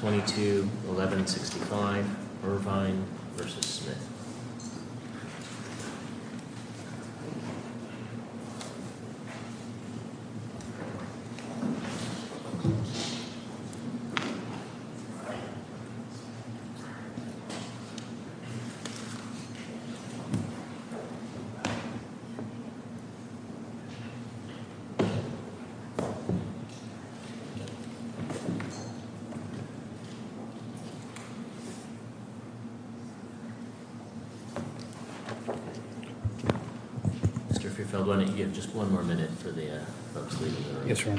22, 11, 65, Irvine versus Smith. Mr.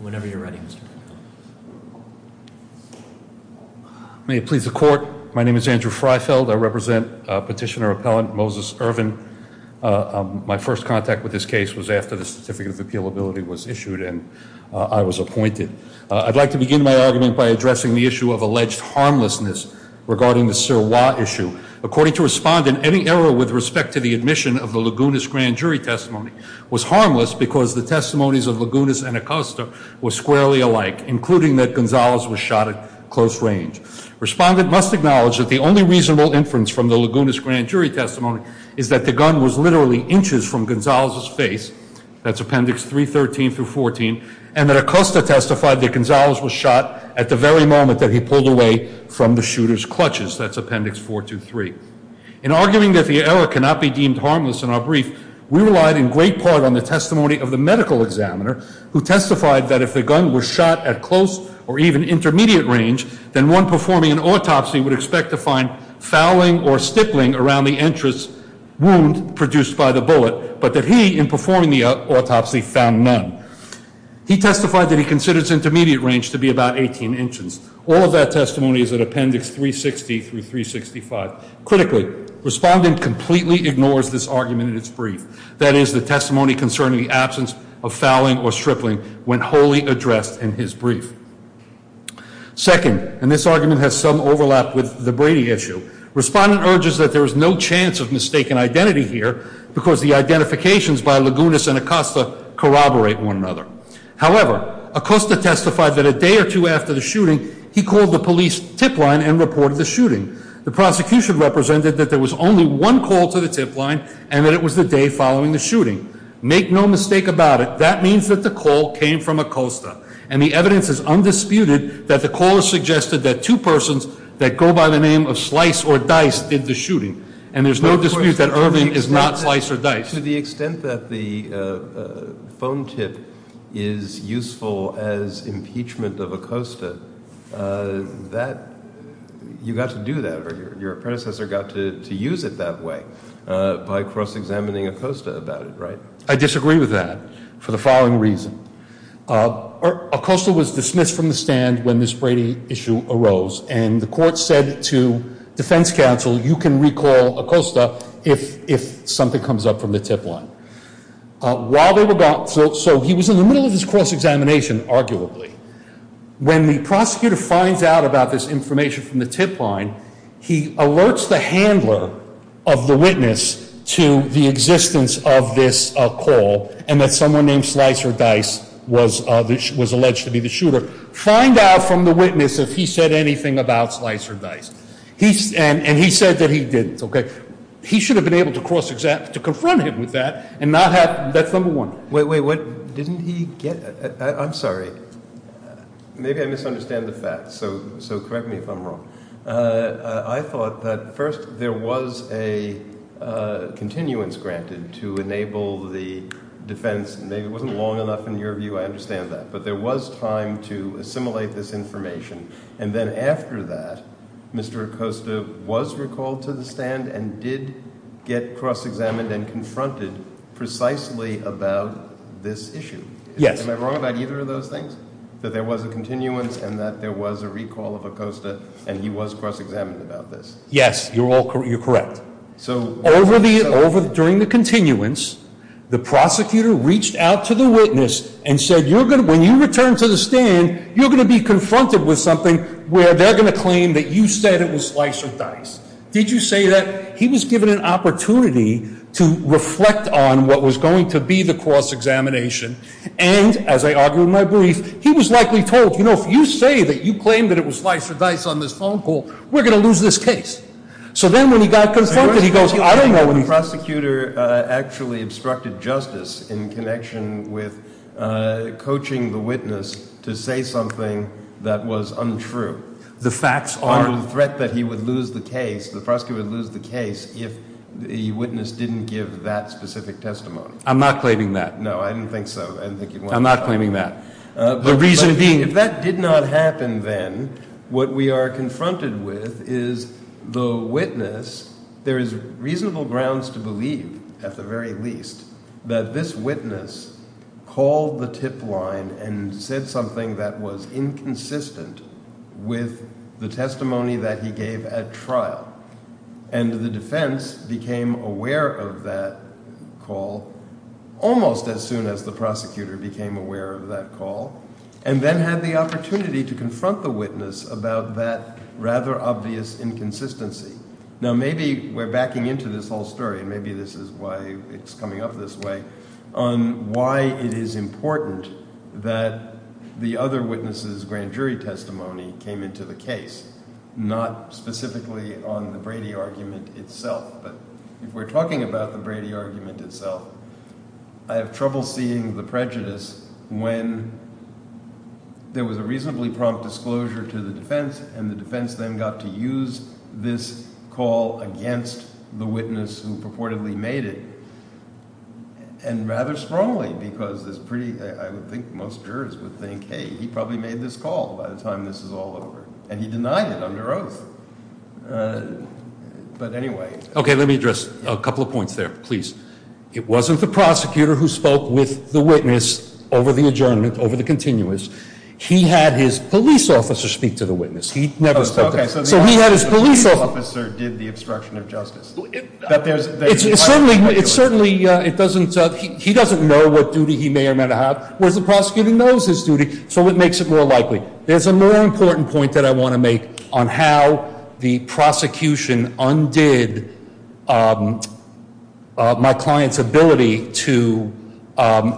Whenever you're ready. May it please the court. My name is Andrew Freifeld. I represent petitioner appellant Moses Irvin. My first contact with this case was after the certificate of appeal ability was issued and I was appointed. I'd like to begin my argument by addressing the issue of alleged harmlessness regarding the Sir Watt issue. According to respondent, any error with respect to the admission of the Laguna's grand jury testimony was harmless because the testimonies of Laguna's and Acosta were squarely alike, including that Gonzalez was shot at close range. Respondent must acknowledge that the only reasonable inference from the Laguna's grand jury testimony is that the gun was literally inches from Gonzalez's face. That's appendix 313 through 14 and that Acosta testified that Gonzalez was shot at the very moment that he pulled away from the shooter's clutches. That's appendix 423. In arguing that the error cannot be deemed harmless in our brief, we relied in great part on the testimony of the medical examiner who testified that if the gun was shot at close or even intermediate range, then one performing an autopsy would expect to find fouling or stippling around the entrance wound produced by the bullet. But that he in performing the autopsy found none. He testified that he considers intermediate range to be about 18 inches. All of that testimony is at appendix 360 through 365. Critically, respondent completely ignores this argument in its brief. That is the testimony concerning the absence of fouling or stripling when wholly addressed in his brief. Second, and this argument has some overlap with the Brady issue, respondent urges that there is no chance of mistaken identity here because the identifications by Laguna's and Acosta corroborate one another. However, Acosta testified that a day or two after the shooting, he called the police tip line and reported the shooting. The prosecution represented that there was only one call to the tip line and that it was the day following the shooting. Make no mistake about it, that means that the call came from Acosta. And the evidence is undisputed that the caller suggested that two persons that go by the name of Slice or Dice did the shooting. And there's no dispute that Irving is not Slice or Dice. But to the extent that the phone tip is useful as impeachment of Acosta, you got to do that or your predecessor got to use it that way by cross-examining Acosta about it, right? I disagree with that for the following reason. Acosta was dismissed from the stand when this Brady issue arose. And the court said to defense counsel, you can recall Acosta if something comes up from the tip line. So he was in the middle of this cross-examination, arguably. When the prosecutor finds out about this information from the tip line, he alerts the handler of the witness to the existence of this call and that someone named Slice or Dice was alleged to be the shooter. Find out from the witness if he said anything about Slice or Dice. And he said that he didn't, okay? He should have been able to cross-examine, to confront him with that and not have, that's number one. Wait, wait, what? Didn't he get? I'm sorry. Maybe I misunderstand the facts, so correct me if I'm wrong. I thought that first there was a continuance granted to enable the defense. Maybe it wasn't long enough in your view. I understand that. But there was time to assimilate this information. And then after that, Mr. Acosta was recalled to the stand and did get cross-examined and confronted precisely about this issue. Yes. Am I wrong about either of those things? That there was a continuance and that there was a recall of Acosta and he was cross-examined about this? Yes, you're correct. During the continuance, the prosecutor reached out to the witness and said, when you return to the stand, you're going to be confronted with something where they're going to claim that you said it was Slice or Dice. Did you say that? He was given an opportunity to reflect on what was going to be the cross-examination. And as I argue in my brief, he was likely told, if you say that you claim that it was Slice or Dice on this phone call, we're going to lose this case. So then when he got confronted, he goes, I don't know. The prosecutor actually obstructed justice in connection with coaching the witness to say something that was untrue. The facts aren't. Under the threat that he would lose the case, the prosecutor would lose the case if the witness didn't give that specific testimony. I'm not claiming that. No, I didn't think so. I didn't think you'd want to. I'm not claiming that. But if that did not happen then, what we are confronted with is the witness. There is reasonable grounds to believe, at the very least, that this witness called the tip line and said something that was inconsistent with the testimony that he gave at trial. And the defense became aware of that call almost as soon as the prosecutor became aware of that call. And then had the opportunity to confront the witness about that rather obvious inconsistency. Now, maybe we're backing into this whole story, and maybe this is why it's coming up this way, on why it is important that the other witness's grand jury testimony came into the case, not specifically on the Brady argument itself. But if we're talking about the Brady argument itself, I have trouble seeing the prejudice when there was a reasonably prompt disclosure to the defense, and the defense then got to use this call against the witness who purportedly made it. And rather strongly, because it's pretty – I would think most jurors would think, hey, he probably made this call by the time this is all over. And he denied it under oath. But anyway. Okay, let me address a couple of points there, please. It wasn't the prosecutor who spoke with the witness over the adjournment, over the continuous. He had his police officer speak to the witness. He never spoke to him. Okay, so the officer did the obstruction of justice. It's certainly – he doesn't know what duty he may or may not have, whereas the prosecutor knows his duty, so it makes it more likely. There's a more important point that I want to make on how the prosecution undid my client's ability to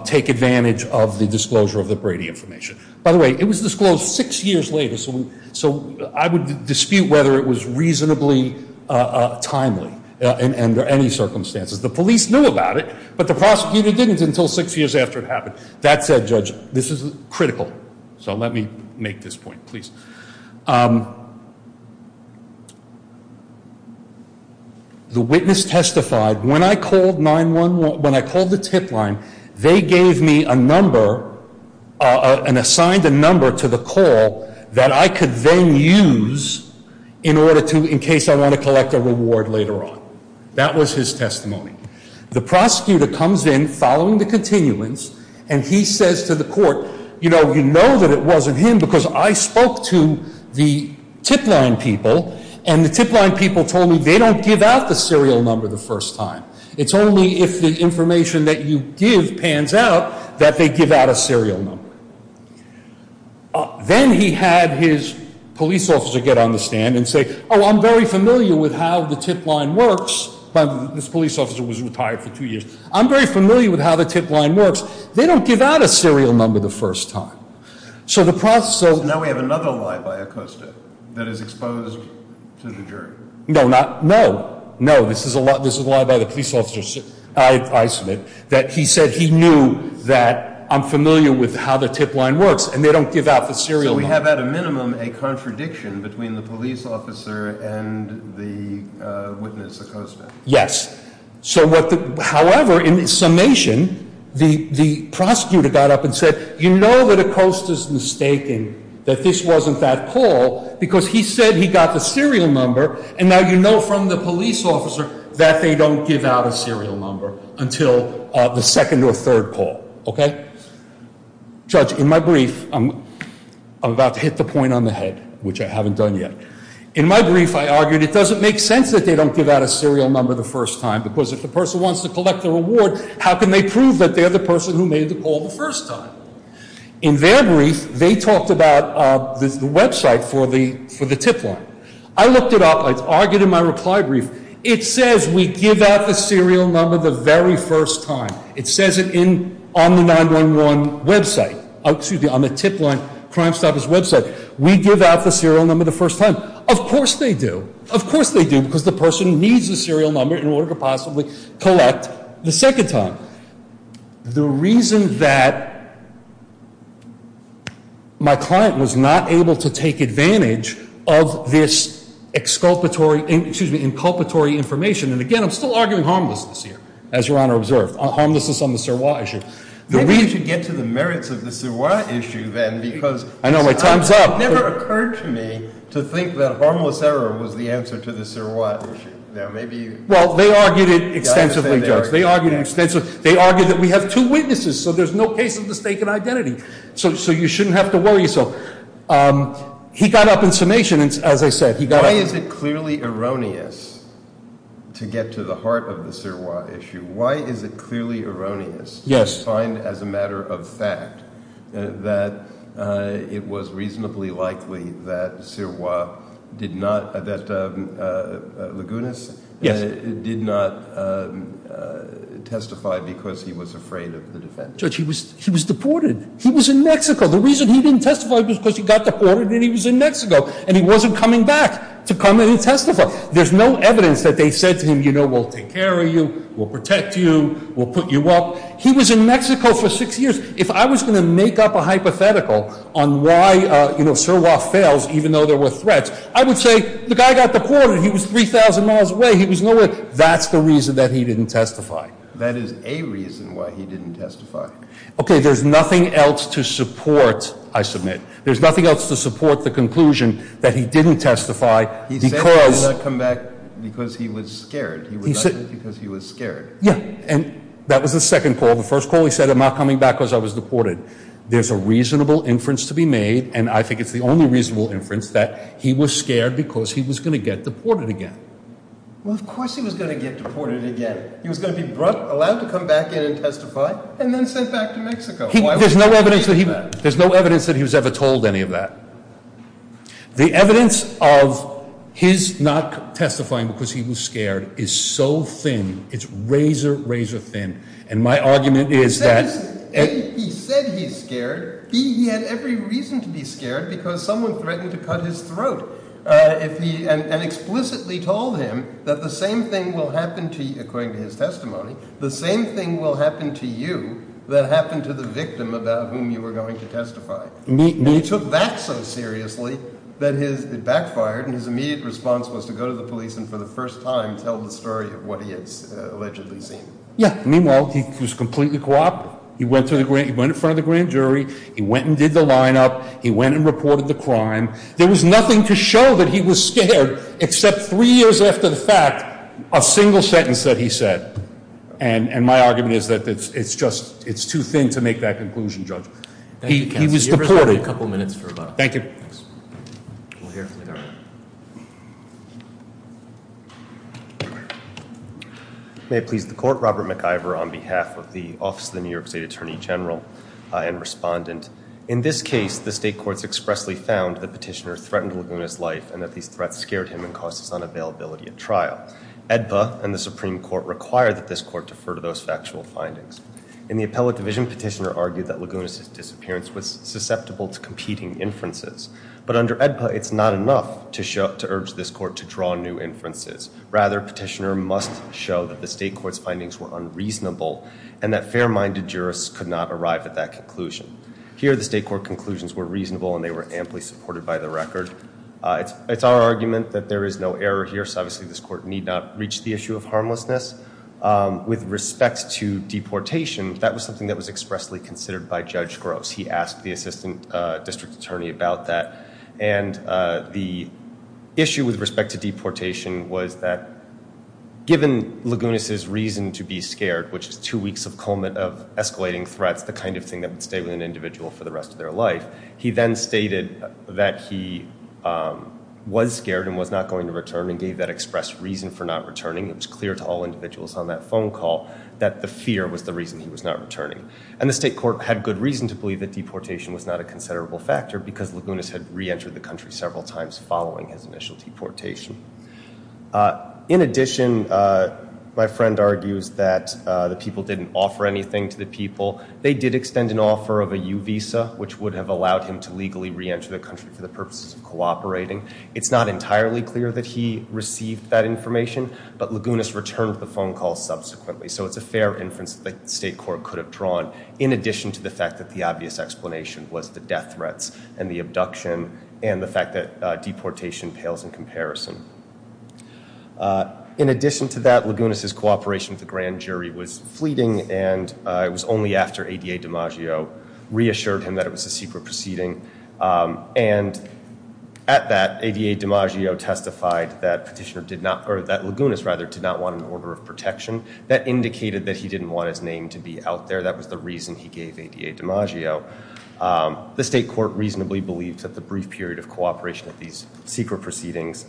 take advantage of the disclosure of the Brady information. By the way, it was disclosed six years later, so I would dispute whether it was reasonably timely under any circumstances. The police knew about it, but the prosecutor didn't until six years after it happened. That said, Judge, this is critical. So let me make this point, please. The witness testified. When I called 911 – when I called the tip line, they gave me a number and assigned a number to the call that I could then use in order to – in case I want to collect a reward later on. That was his testimony. The prosecutor comes in following the continuance, and he says to the court, you know, you know that it wasn't him because I spoke to the tip line people, and the tip line people told me they don't give out the serial number the first time. It's only if the information that you give pans out that they give out a serial number. Then he had his police officer get on the stand and say, oh, I'm very familiar with how the tip line works. This police officer was retired for two years. I'm very familiar with how the tip line works. They don't give out a serial number the first time. So the process – Now we have another lie by Acosta that is exposed to the jury. No, not – no. No, this is a lie by the police officer. I submit that he said he knew that I'm familiar with how the tip line works, and they don't give out the serial number. So we have at a minimum a contradiction between the police officer and the witness, Acosta. Yes. So what the – however, in summation, the prosecutor got up and said, you know that Acosta's mistaken, that this wasn't that call because he said he got the serial number, and now you know from the police officer that they don't give out a serial number until the second or third call. Okay? Judge, in my brief, I'm about to hit the point on the head, which I haven't done yet. In my brief, I argued it doesn't make sense that they don't give out a serial number the first time because if the person wants to collect the reward, how can they prove that they're the person who made the call the first time? In their brief, they talked about the website for the tip line. I looked it up. I argued in my reply brief. It says we give out the serial number the very first time. It says it on the 911 website – excuse me, on the tip line, Crime Stoppers website. We give out the serial number the first time. Of course they do. Of course they do because the person needs the serial number in order to possibly collect the second time. The reason that my client was not able to take advantage of this exculpatory – excuse me, inculpatory information – and again, I'm still arguing harmlessness here, as Your Honor observed. Harmlessness on the surroi issue. Maybe we should get to the merits of the surroi issue then because – I know, but time's up. It never occurred to me to think that harmless error was the answer to the surroi issue. Well, they argued it extensively, Judge. They argued it extensively. They argued that we have two witnesses, so there's no case of mistaken identity. So you shouldn't have to worry. So he got up in summation, as I said. Why is it clearly erroneous to get to the heart of the surroi issue? Why is it clearly erroneous to find as a matter of fact that it was reasonably likely that surroi did not – that Lagunas did not testify because he was afraid of the defense? Judge, he was deported. He was in Mexico. The reason he didn't testify was because he got deported and he was in Mexico, and he wasn't coming back to come in and testify. There's no evidence that they said to him, you know, we'll take care of you, we'll protect you, we'll put you up. He was in Mexico for six years. If I was going to make up a hypothetical on why surroi fails, even though there were threats, I would say the guy got deported. He was 3,000 miles away. He was nowhere. That's the reason that he didn't testify. That is a reason why he didn't testify. Okay. There's nothing else to support, I submit. There's nothing else to support the conclusion that he didn't testify because – He said he was going to come back because he was scared. He was scared. Yeah. And that was the second call. The first call he said I'm not coming back because I was deported. There's a reasonable inference to be made, and I think it's the only reasonable inference, that he was scared because he was going to get deported again. Well, of course he was going to get deported again. He was going to be allowed to come back in and testify and then sent back to Mexico. There's no evidence that he was ever told any of that. The evidence of his not testifying because he was scared is so thin. It's razor, razor thin. And my argument is that – A, he said he's scared. B, he had every reason to be scared because someone threatened to cut his throat and explicitly told him that the same thing will happen to you, according to his testimony, the same thing will happen to you that happened to the victim about whom you were going to testify. He took that so seriously that it backfired, and his immediate response was to go to the police and for the first time tell the story of what he had allegedly seen. Yeah, meanwhile, he was completely cooperative. He went in front of the grand jury. He went and did the lineup. He went and reported the crime. There was nothing to show that he was scared except three years after the fact, a single sentence that he said. And my argument is that it's just too thin to make that conclusion, Judge. He was deported. Thank you, counsel. We'll hear from the jury. Thank you. May it please the court, Robert McIvor on behalf of the Office of the New York State Attorney General and respondent. In this case, the state courts expressly found that Petitioner threatened Laguna's life and that these threats scared him and caused his unavailability at trial. AEDPA and the Supreme Court require that this court defer to those factual findings. In the appellate division, Petitioner argued that Laguna's disappearance was susceptible to competing inferences, but under AEDPA, it's not enough to urge this court to draw new inferences. Rather, Petitioner must show that the state court's findings were unreasonable and that fair-minded jurists could not arrive at that conclusion. Here, the state court conclusions were reasonable and they were amply supported by the record. It's our argument that there is no error here, so obviously this court need not reach the issue of harmlessness. With respect to deportation, that was something that was expressly considered by Judge Gross. He asked the assistant district attorney about that, and the issue with respect to deportation was that given Laguna's reason to be scared, which is two weeks of escalating threats, the kind of thing that would stay with an individual for the rest of their life, he then stated that he was scared and was not going to return and gave that expressed reason for not returning. It was clear to all individuals on that phone call that the fear was the reason he was not returning. And the state court had good reason to believe that deportation was not a considerable factor because Laguna's had re-entered the country several times following his initial deportation. In addition, my friend argues that the people didn't offer anything to the people. They did extend an offer of a U visa, which would have allowed him to legally re-enter the country for the purposes of cooperating. It's not entirely clear that he received that information, but Laguna's returned the phone call subsequently, so it's a fair inference that the state court could have drawn, in addition to the fact that the obvious explanation was the death threats and the abduction and the fact that deportation pales in comparison. In addition to that, Laguna's cooperation with the grand jury was fleeting, and it was only after ADA DiMaggio reassured him that it was a secret proceeding. And at that, ADA DiMaggio testified that Laguna's did not want an order of protection, that indicated that he didn't want his name to be out there. That was the reason he gave ADA DiMaggio. The state court reasonably believed that the brief period of cooperation of these secret proceedings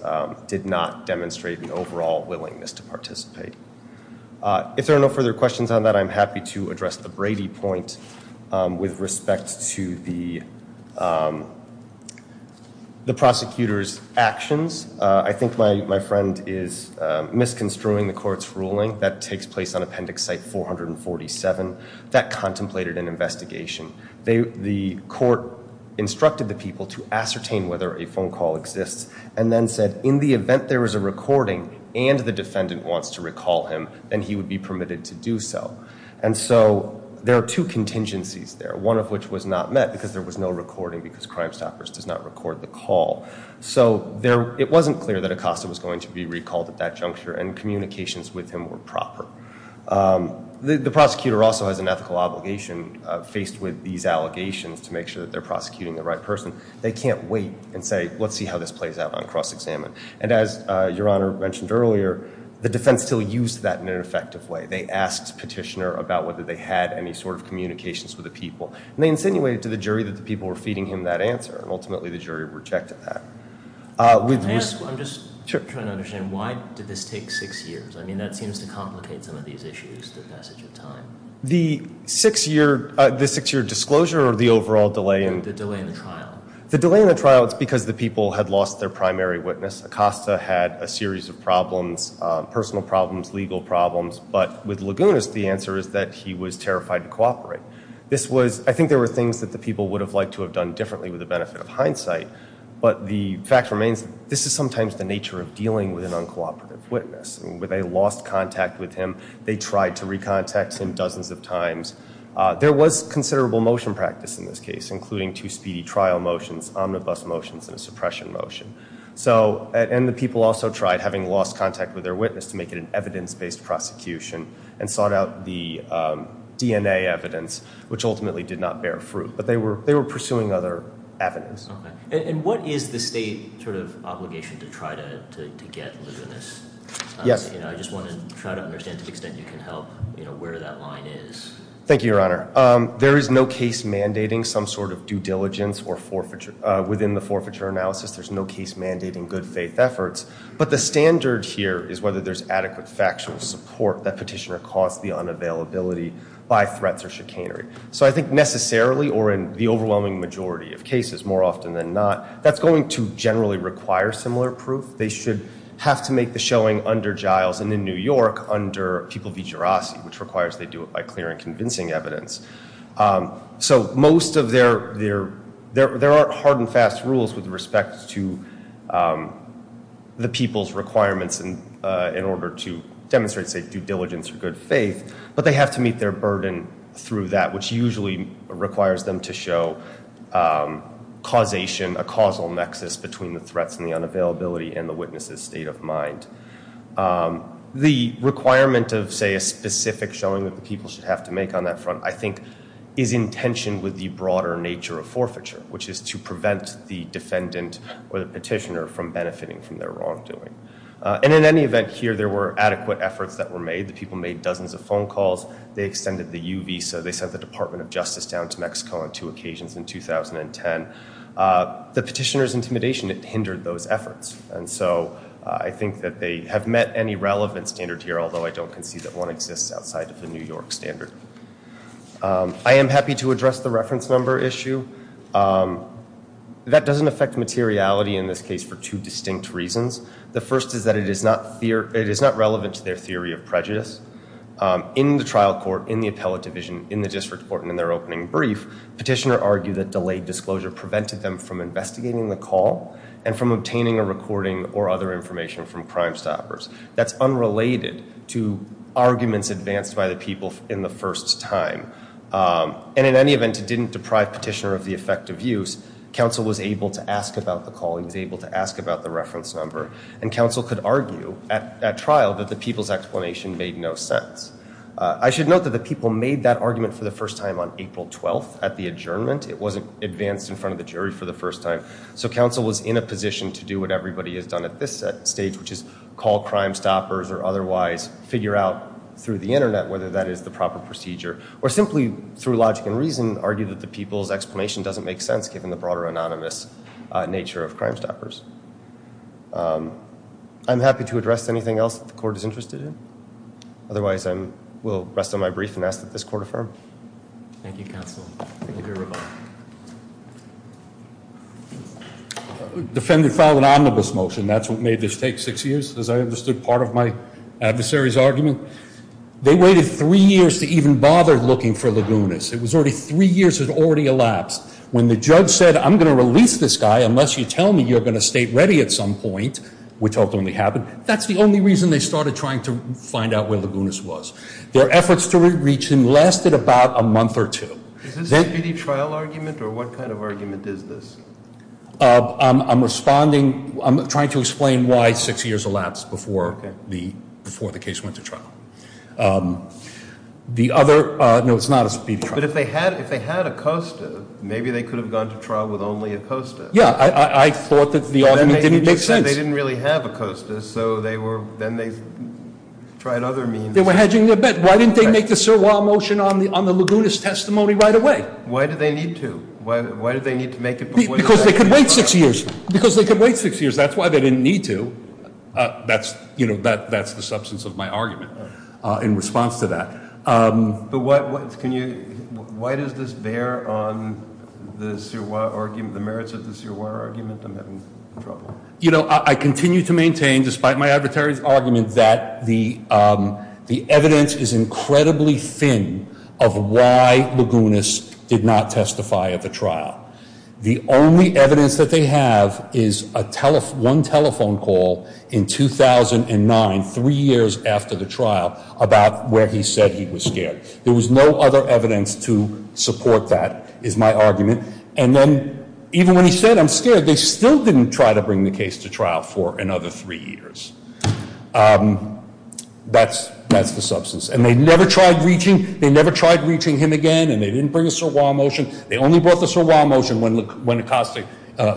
did not demonstrate the overall willingness to participate. If there are no further questions on that, I'm happy to address the Brady point with respect to the prosecutor's actions. I think my friend is misconstruing the court's ruling. That takes place on Appendix Site 447. That contemplated an investigation. The court instructed the people to ascertain whether a phone call exists and then said in the event there is a recording and the defendant wants to recall him, then he would be permitted to do so. And so there are two contingencies there, one of which was not met because there was no recording because Crimestoppers does not record the call. So it wasn't clear that Acosta was going to be recalled at that juncture and communications with him were proper. The prosecutor also has an ethical obligation faced with these allegations to make sure that they're prosecuting the right person. They can't wait and say, let's see how this plays out on cross-examine. And as Your Honor mentioned earlier, the defense still used that in an effective way. They asked Petitioner about whether they had any sort of communications with the people. And they insinuated to the jury that the people were feeding him that answer. And ultimately the jury rejected that. Can I ask, I'm just trying to understand, why did this take six years? I mean, that seems to complicate some of these issues, the passage of time. The six-year disclosure or the overall delay? The delay in the trial. The delay in the trial is because the people had lost their primary witness. Acosta had a series of problems, personal problems, legal problems. I think there were things that the people would have liked to have done differently with the benefit of hindsight. But the fact remains, this is sometimes the nature of dealing with an uncooperative witness. When they lost contact with him, they tried to recontact him dozens of times. There was considerable motion practice in this case, including two speedy trial motions, omnibus motions, and a suppression motion. And the people also tried, having lost contact with their witness, to make it an evidence-based prosecution and sought out the DNA evidence, which ultimately did not bear fruit. But they were pursuing other avenues. And what is the state sort of obligation to try to get a witness? I just want to try to understand, to the extent you can help, where that line is. Thank you, Your Honor. There is no case mandating some sort of due diligence within the forfeiture analysis. There's no case mandating good faith efforts. But the standard here is whether there's adequate factual support that petitioner caused the unavailability by threats or chicanery. So I think necessarily, or in the overwhelming majority of cases, more often than not, that's going to generally require similar proof. They should have to make the showing under Giles and in New York under people v. Jirasi, which requires they do it by clear and convincing evidence. So most of their, there are hard and fast rules with respect to the people's requirements in order to demonstrate, say, due diligence or good faith. But they have to meet their burden through that, which usually requires them to show causation, a causal nexus between the threats and the unavailability and the witness's state of mind. The requirement of, say, a specific showing that the people should have to make on that front, I think, is in tension with the broader nature of forfeiture, which is to prevent the defendant or the petitioner from benefiting from their wrongdoing. And in any event here, there were adequate efforts that were made. The people made dozens of phone calls. They extended the U visa. They sent the Department of Justice down to Mexico on two occasions in 2010. The petitioner's intimidation, it hindered those efforts. And so I think that they have met any relevant standard here, I am happy to address the reference number issue. That doesn't affect materiality in this case for two distinct reasons. The first is that it is not relevant to their theory of prejudice. In the trial court, in the appellate division, in the district court, and in their opening brief, petitioner argued that delayed disclosure prevented them from investigating the call and from obtaining a recording or other information from Crimestoppers. That's unrelated to arguments advanced by the people in the first time. And in any event, it didn't deprive petitioner of the effective use. Counsel was able to ask about the call. He was able to ask about the reference number. And counsel could argue at trial that the people's explanation made no sense. I should note that the people made that argument for the first time on April 12th at the adjournment. It wasn't advanced in front of the jury for the first time. So counsel was in a position to do what everybody has done at this stage, which is call Crimestoppers or otherwise figure out through the Internet whether that is the proper procedure or simply through logic and reason argue that the people's explanation doesn't make sense given the broader anonymous nature of Crimestoppers. I'm happy to address anything else that the court is interested in. Otherwise, I will rest on my brief and ask that this court affirm. Thank you, counsel. Thank you very much. Defendant filed an omnibus motion. That's what made this take six years, as I understood part of my adversary's argument. They waited three years to even bother looking for Lagunas. It was already three years had already elapsed. When the judge said, I'm going to release this guy unless you tell me you're going to state ready at some point, which ultimately happened, that's the only reason they started trying to find out where Lagunas was. Their efforts to reach him lasted about a month or two. Is this a speedy trial argument or what kind of argument is this? I'm responding, I'm trying to explain why six years elapsed before the case went to trial. The other, no, it's not a speedy trial. But if they had Acosta, maybe they could have gone to trial with only Acosta. Yeah, I thought that the argument didn't make sense. They didn't really have Acosta, so they were, then they tried other means. They were hedging their bet. Why didn't they make the Sirwa motion on the Lagunas testimony right away? Why did they need to? Why did they need to make it before- Because they could wait six years. Because they could wait six years. That's why they didn't need to. That's the substance of my argument in response to that. But why does this bear on the Sirwa argument, the merits of the Sirwa argument? I'm having trouble. You know, I continue to maintain, despite my arbitrary argument, that the evidence is incredibly thin of why Lagunas did not testify at the trial. The only evidence that they have is one telephone call in 2009, three years after the trial, about where he said he was scared. There was no other evidence to support that, is my argument. And then, even when he said, I'm scared, they still didn't try to bring the case to trial for another three years. That's the substance. And they never tried reaching him again, and they didn't bring a Sirwa motion. They only brought the Sirwa motion when Acosta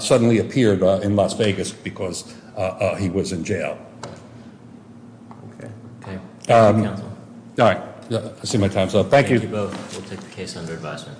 suddenly appeared in Las Vegas because he was in jail. Okay. Thank you, counsel. All right. I see my time's up. Thank you. Thank you both. We'll take the case under advisement.